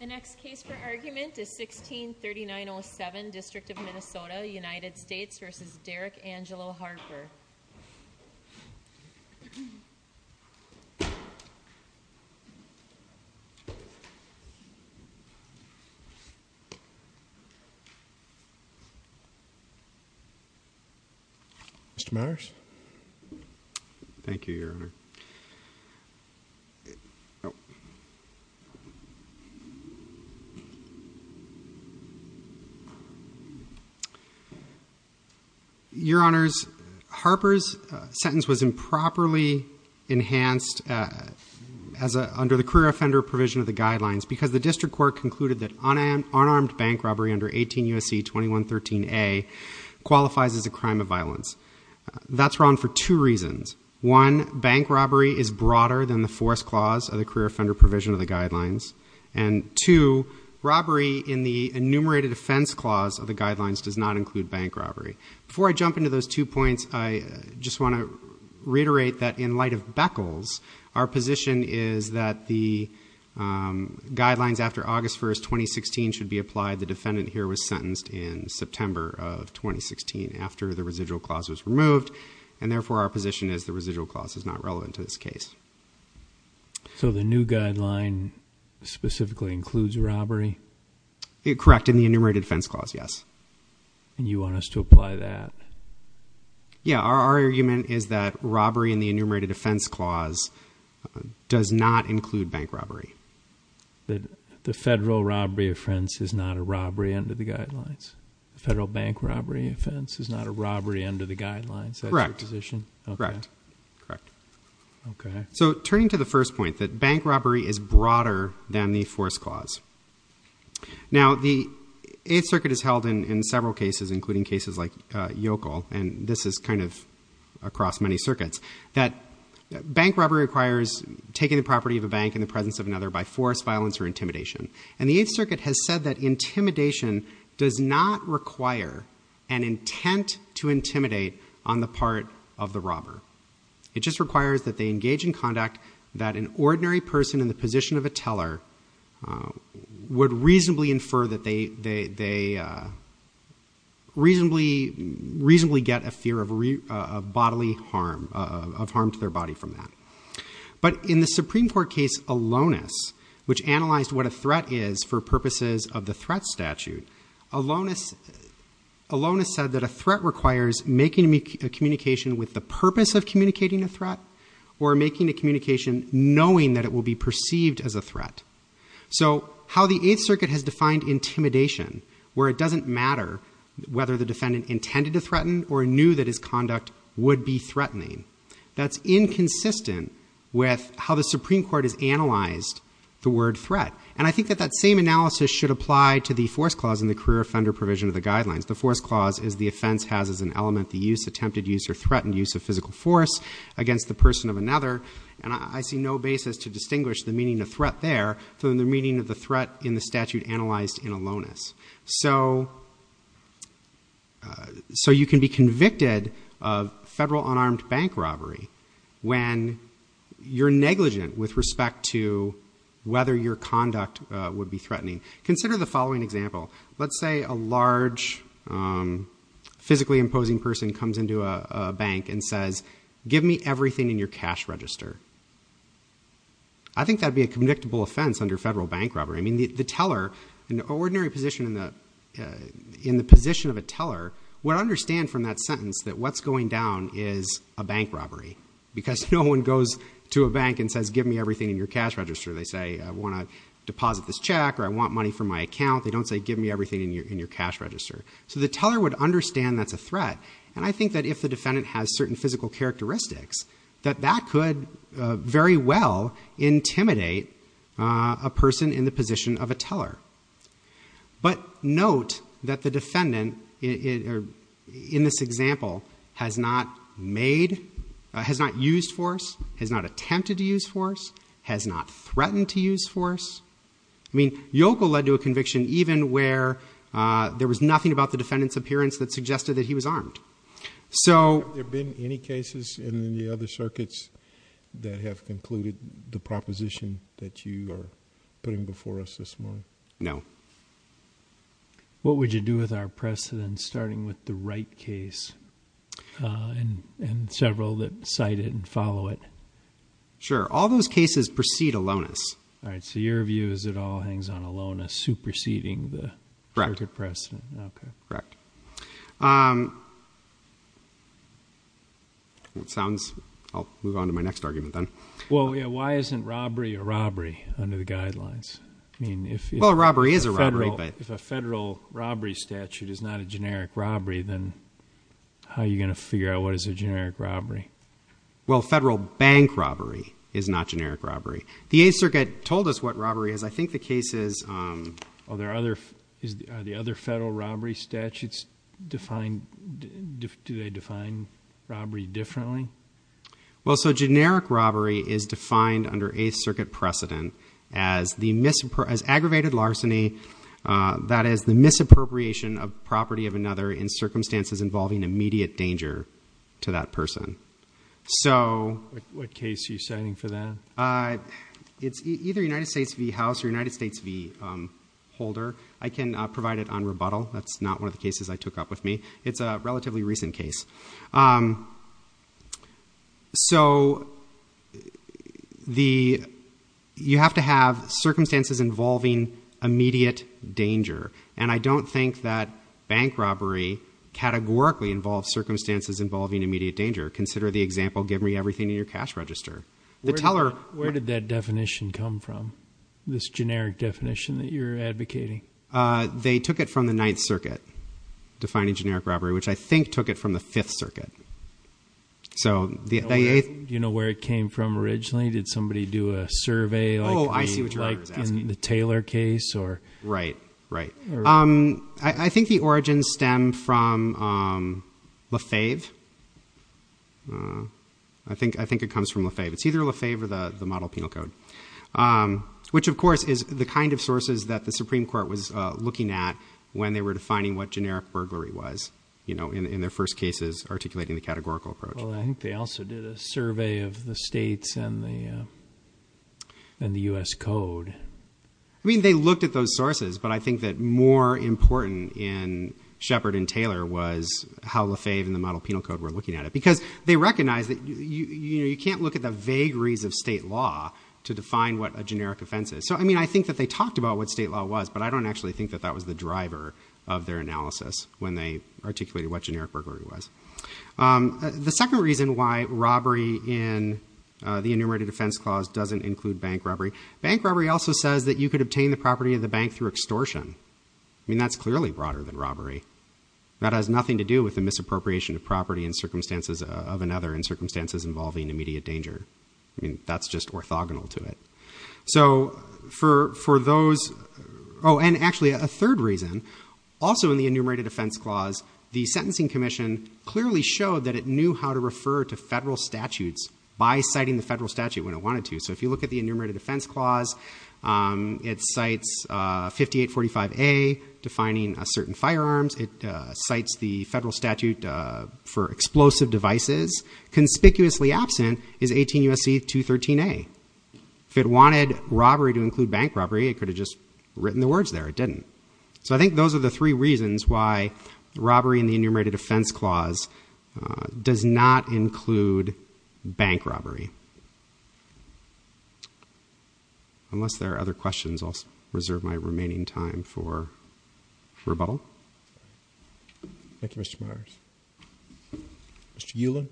The next case for argument is 1639 07 district of Minnesota United States vs. Derrick Angelo Harper Mr.. Myers, thank you your honor Your honors, Harper's sentence was improperly enhanced as under the career offender provision of the guidelines because the district court concluded that unarmed bank robbery under 18 U.S.C. 2113 A qualifies as a crime of violence. That's wrong for two reasons. One, bank robbery is broader than the force clause of the career offender provision of the guidelines. And two, robbery in the enumerated offense clause of the guidelines does not include bank robbery. Before I jump into those two points, I just want to reiterate that in light of Beckles, our position is that the guidelines after August 1, 2016 should be applied. The defendant here was sentenced in September of 2016 after the residual clause was removed. And therefore our position is the residual clause is not relevant to this case. So the new guideline specifically includes robbery? Correct, in the enumerated offense clause, yes. And you want us to apply that? Yeah, our argument is that robbery in the enumerated offense clause does not include bank robbery. The federal robbery offense is not a robbery under the guidelines? The federal bank robbery offense is not a robbery under the guidelines? Correct. That's your position? Correct. Okay. So turning to the first point, that bank robbery is broader than the force clause. Now, the Eighth Circuit has held in several cases, including cases like Yokel, and this is kind of across many circuits, that bank robbery requires taking the property of a bank in the presence of another by force, violence, or intimidation. And the Eighth Circuit has said that intimidation does not require an intent to intimidate on the part of the robber. It just requires that they engage in conduct that an ordinary person in the position of a teller would reasonably infer that they reasonably get a fear of bodily harm, of harm to their body from that. But in the Supreme Court case Alonis, which analyzed what a threat is for purposes of the threat statute, Alonis said that a threat requires making a communication with the purpose of communicating a threat, or making a communication knowing that it will be perceived as a threat. So how the Eighth Circuit has defined intimidation, where it doesn't matter whether the defendant intended to threaten or knew that his conduct would be threatening. That's inconsistent with how the Supreme Court has analyzed the word threat. And I think that that same analysis should apply to the force clause in the career offender provision of the guidelines. The force clause is the offense has as an element the use, attempted use, or threatened use of physical force against the person of another. And I see no basis to distinguish the meaning of threat there from the meaning of the threat in the statute analyzed in Alonis. So you can be convicted of federal unarmed bank robbery when you're negligent with respect to whether your conduct would be threatening. Consider the following example. Let's say a large physically imposing person comes into a bank and says, give me everything in your cash register. I think that would be a convictable offense under federal bank robbery. I mean, the teller, an ordinary position in the position of a teller, would understand from that sentence that what's going down is a bank robbery. Because no one goes to a bank and says, give me everything in your cash register. They say, I want to deposit this check, or I want money from my account. They don't say, give me everything in your cash register. So the teller would understand that's a threat. And I think that if the defendant has certain physical characteristics, that that could very well intimidate a person in the position of a teller. But note that the defendant, in this example, has not used force, has not attempted to use force, has not threatened to use force. I mean, Yokel led to a conviction even where there was nothing about the defendant's appearance that suggested that he was armed. So... Have there been any cases in the other circuits that have concluded the proposition that you are putting before us this morning? No. What would you do with our precedents, starting with the right case, and several that cite it and follow it? Sure. All those cases precede aloneness. All right. So your view is it all hangs on aloneness, superseding the circuit precedent. Correct. Okay. Correct. It sounds... I'll move on to my next argument then. Well, yeah, why isn't robbery a robbery under the guidelines? I mean, if... Well, a robbery is a robbery, but... If a federal robbery statute is not a generic robbery, then how are you going to figure out what is a generic robbery? Well, federal bank robbery is not generic robbery. The Eighth Circuit told us what robbery is. I think the case is... Are the other federal robbery statutes defined... Do they define robbery differently? Well, so generic robbery is defined under Eighth Circuit precedent as aggravated larceny, that is the misappropriation of property of another in circumstances involving immediate danger to that person. So... What case are you citing for that? It's either United States v. House or United States v. Holder. I can provide it on rebuttal. That's not one of the cases I took up with me. It's a relatively recent case. So you have to have circumstances involving immediate danger, and I don't think that bank robbery categorically involves circumstances involving immediate danger. Consider the example, give me everything in your cash register. Where did that definition come from, this generic definition that you're advocating? They took it from the Ninth Circuit, defining generic robbery, which I think took it from the Fifth Circuit. Do you know where it came from originally? Did somebody do a survey, like in the Taylor case? Right, right. I think the origins stem from Lefebvre. I think it comes from Lefebvre. It's either Lefebvre or the Model Penal Code, which, of course, is the kind of sources that the Supreme Court was looking at when they were defining what generic burglary was, you know, in their first cases articulating the categorical approach. Well, I think they also did a survey of the states and the U.S. Code. I mean, they looked at those sources, but I think that more important in Shepard and Taylor was how Lefebvre and the Model Penal Code were looking at it, because they recognized that you can't look at the vagaries of state law to define what a generic offense is. So, I mean, I think that they talked about what state law was, but I don't actually think that that was the driver of their analysis when they articulated what generic burglary was. The second reason why robbery in the Enumerated Offense Clause doesn't include bank robbery, bank robbery also says that you could obtain the property of the bank through extortion. I mean, that's clearly broader than robbery. That has nothing to do with the misappropriation of property in circumstances of another in circumstances involving immediate danger. I mean, that's just orthogonal to it. So, for those... Oh, and actually, a third reason, also in the Enumerated Offense Clause, the Sentencing Commission clearly showed that it knew how to refer to federal statutes by citing the federal statute when it wanted to. So, if you look at the Enumerated Offense Clause, it cites 5845A, defining certain firearms. It cites the federal statute for explosive devices. Conspicuously absent is 18 U.S.C. 213A. If it wanted robbery to include bank robbery, it could have just written the words there. It didn't. So, I think those are the three reasons why robbery in the Enumerated Offense Clause does not include bank robbery. Unless there are other questions, I'll reserve my remaining time for rebuttal. Thank you, Mr. Myers. Mr. Ulan?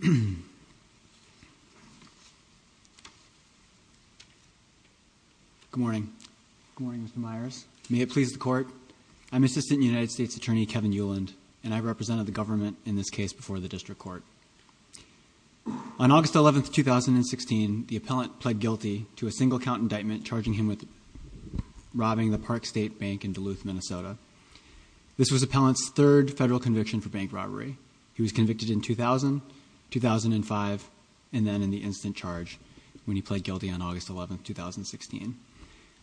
Good morning. Good morning, Mr. Myers. May it please the Court, I'm Assistant United States Attorney Kevin Uland, and I represented the government in this case before the District Court. On August 11, 2016, the appellant pled guilty to a single-count indictment charging him with robbing the Park State Bank in Duluth, Minnesota. This was the appellant's third federal conviction for bank robbery. He was convicted in 2000, 2005, and then in the instant charge when he pled guilty on August 11, 2016.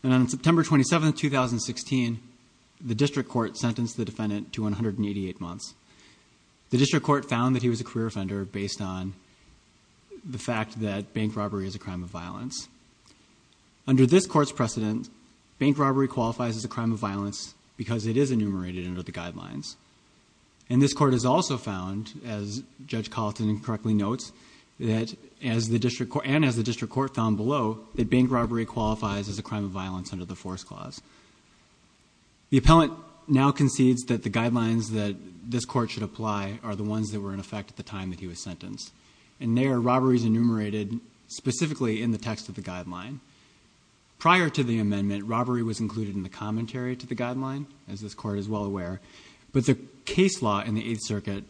On September 27, 2016, the District Court sentenced the defendant to 188 months. The District Court found that he was a career offender based on the fact that bank robbery is a crime of violence. Under this Court's precedent, bank robbery qualifies as a crime of violence because it is enumerated under the Guidelines. And this Court has also found, as Judge Colleton correctly notes, and as the District Court found below, that bank robbery qualifies as a crime of violence under the Force Clause. The appellant now concedes that the Guidelines that this Court should apply are the ones that were in effect at the time that he was sentenced. And they are robberies enumerated specifically in the text of the Guideline. Prior to the amendment, robbery was included in the commentary to the Guideline, as this Court is well aware, but the case law in the Eighth Circuit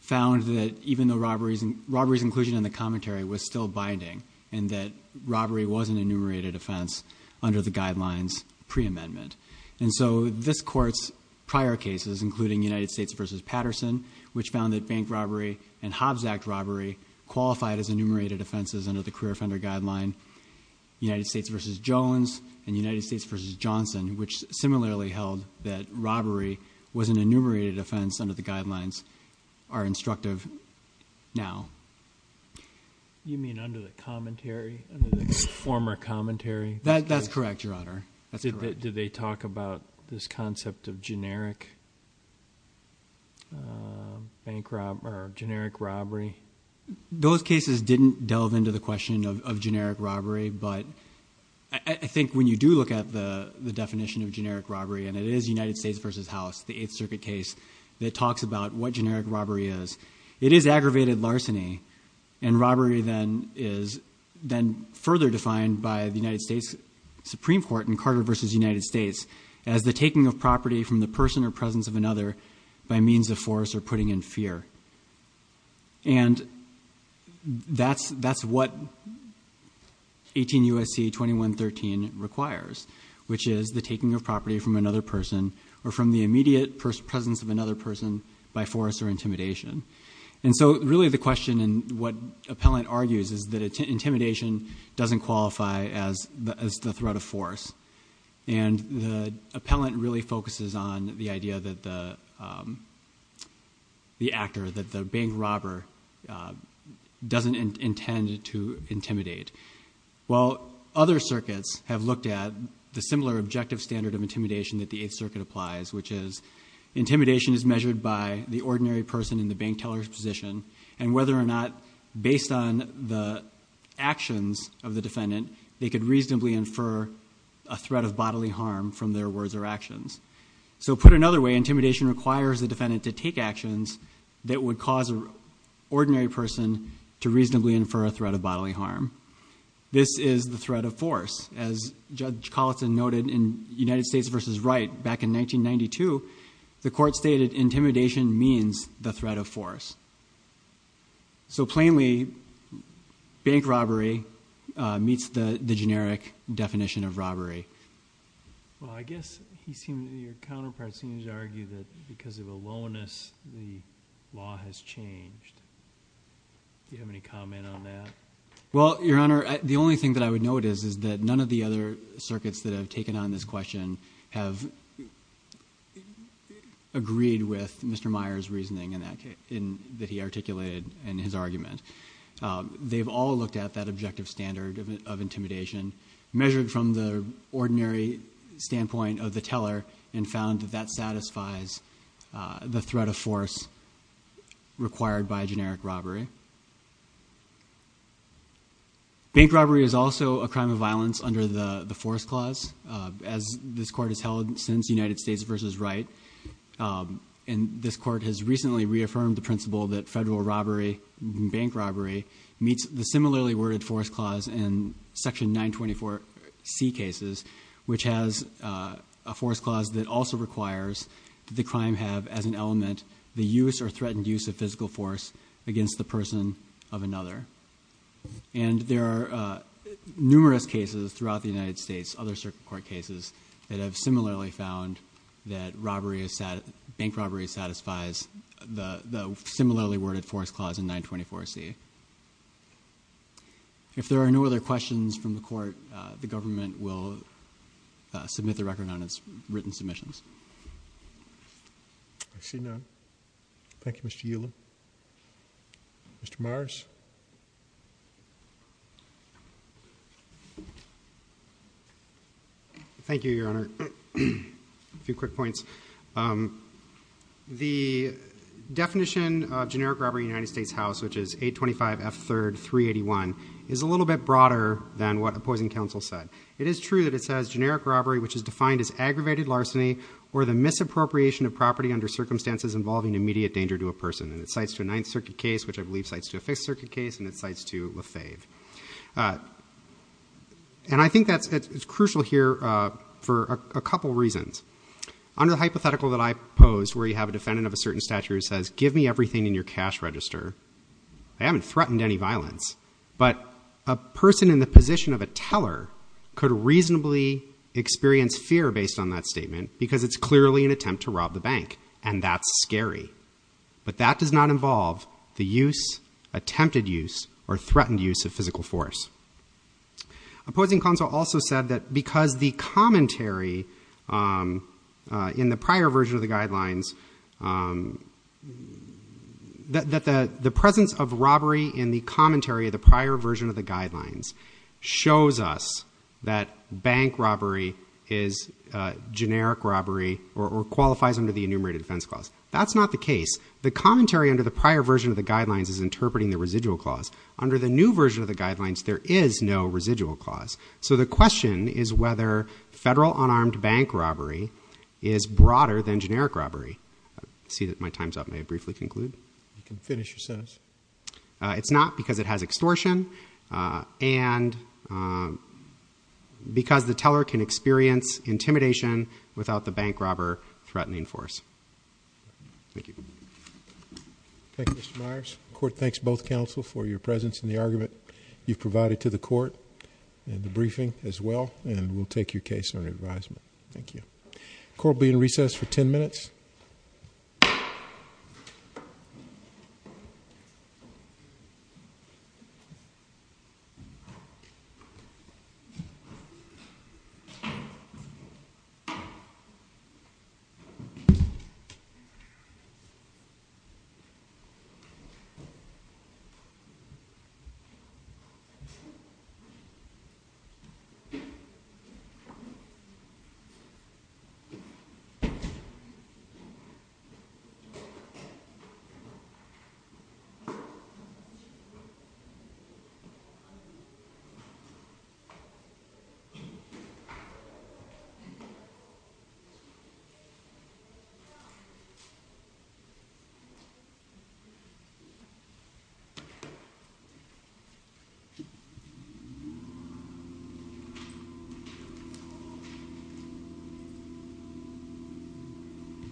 found that even though robbery's inclusion in the commentary was still binding and that robbery was an enumerated offense under the Guidelines pre-amendment. And so this Court's prior cases, including United States v. Patterson, which found that bank robbery and Hobbs Act robbery qualified as enumerated offenses under the Career Offender Guideline, United States v. Jones, and United States v. Johnson, which similarly held that robbery was an enumerated offense under the Guidelines, are instructive now. You mean under the commentary, under the former commentary? That's correct, Your Honor. Did they talk about this concept of generic robbery? Those cases didn't delve into the question of generic robbery, but I think when you do look at the definition of generic robbery, and it is United States v. House, the Eighth Circuit case, that talks about what generic robbery is. It is aggravated larceny, and robbery then is further defined by the United States Supreme Court in Carter v. United States as the taking of property from the person or presence of another by means of force or putting in fear. And that's what 18 U.S.C. 2113 requires, which is the taking of property from another person or from the immediate presence of another person by force or intimidation. And so really the question, and what Appellant argues, is that intimidation doesn't qualify as the threat of force. And the Appellant really focuses on the idea that the actor, that the bank robber, doesn't intend to intimidate. While other circuits have looked at the similar objective standard of intimidation that the Eighth Circuit applies, which is intimidation is measured by the ordinary person in the bank teller's position and whether or not, based on the actions of the defendant, they could reasonably infer a threat of bodily harm from their words or actions. So put another way, intimidation requires the defendant to take actions that would cause an ordinary person to reasonably infer a threat of bodily harm. This is the threat of force. As Judge Collison noted in United States v. Wright back in 1992, the court stated intimidation means the threat of force. So plainly, bank robbery meets the generic definition of robbery. Well, I guess your counterpart seems to argue that because of aloneness, the law has changed. Do you have any comment on that? Well, Your Honor, the only thing that I would note is that none of the other circuits that have taken on this question have agreed with Mr. Meyer's reasoning that he articulated in his argument. They've all looked at that objective standard of intimidation, measured from the ordinary standpoint of the teller, and found that that satisfies the threat of force required by generic robbery. Bank robbery is also a crime of violence under the force clause, as this court has held since United States v. Wright. And this court has recently reaffirmed the principle that federal robbery and bank robbery meets the similarly worded force clause in Section 924C cases, which has a force clause that also requires that the crime have as an element the use or threatened use of physical force against the person of another. And there are numerous cases throughout the United States, other circuit court cases, that have similarly found that bank robbery satisfies the similarly worded force clause in 924C. If there are no other questions from the court, the government will submit the record on its written submissions. I see none. Thank you, Mr. Yeeler. Mr. Myers. Thank you, Your Honor. A few quick points. The definition of generic robbery in the United States House, which is 825 F. 3rd 381, is a little bit broader than what opposing counsel said. It is true that it says, generic robbery, which is defined as aggravated larceny or the misappropriation of property under circumstances involving immediate danger to a person. And it cites to a Ninth Circuit case, which I believe cites to a Fifth Circuit case, and it cites to Lafave. And I think that's crucial here for a couple reasons. Under the hypothetical that I posed, where you have a defendant of a certain stature who says, give me everything in your cash register, I haven't threatened any violence, but a person in the position of a teller could reasonably experience fear based on that statement because it's clearly an attempt to rob the bank, and that's scary. But that does not involve the use, or threatened use of physical force. Opposing counsel also said that because the commentary in the prior version of the guidelines, that the presence of robbery in the commentary of the prior version of the guidelines shows us that bank robbery is generic robbery or qualifies under the enumerated defense clause. That's not the case. The commentary under the prior version of the guidelines is interpreting the residual clause. Under the new version of the guidelines, there is no residual clause. So the question is whether federal unarmed bank robbery is broader than generic robbery. I see that my time's up. May I briefly conclude? You can finish your sentence. It's not because it has extortion and because the teller can experience intimidation without the bank robber threatening force. Thank you. Thank you, Mr. Myers. The court thanks both counsel for your presence in the argument you've provided to the court and the briefing as well, and we'll take your case under advisement. Thank you. Thank you. Thank you.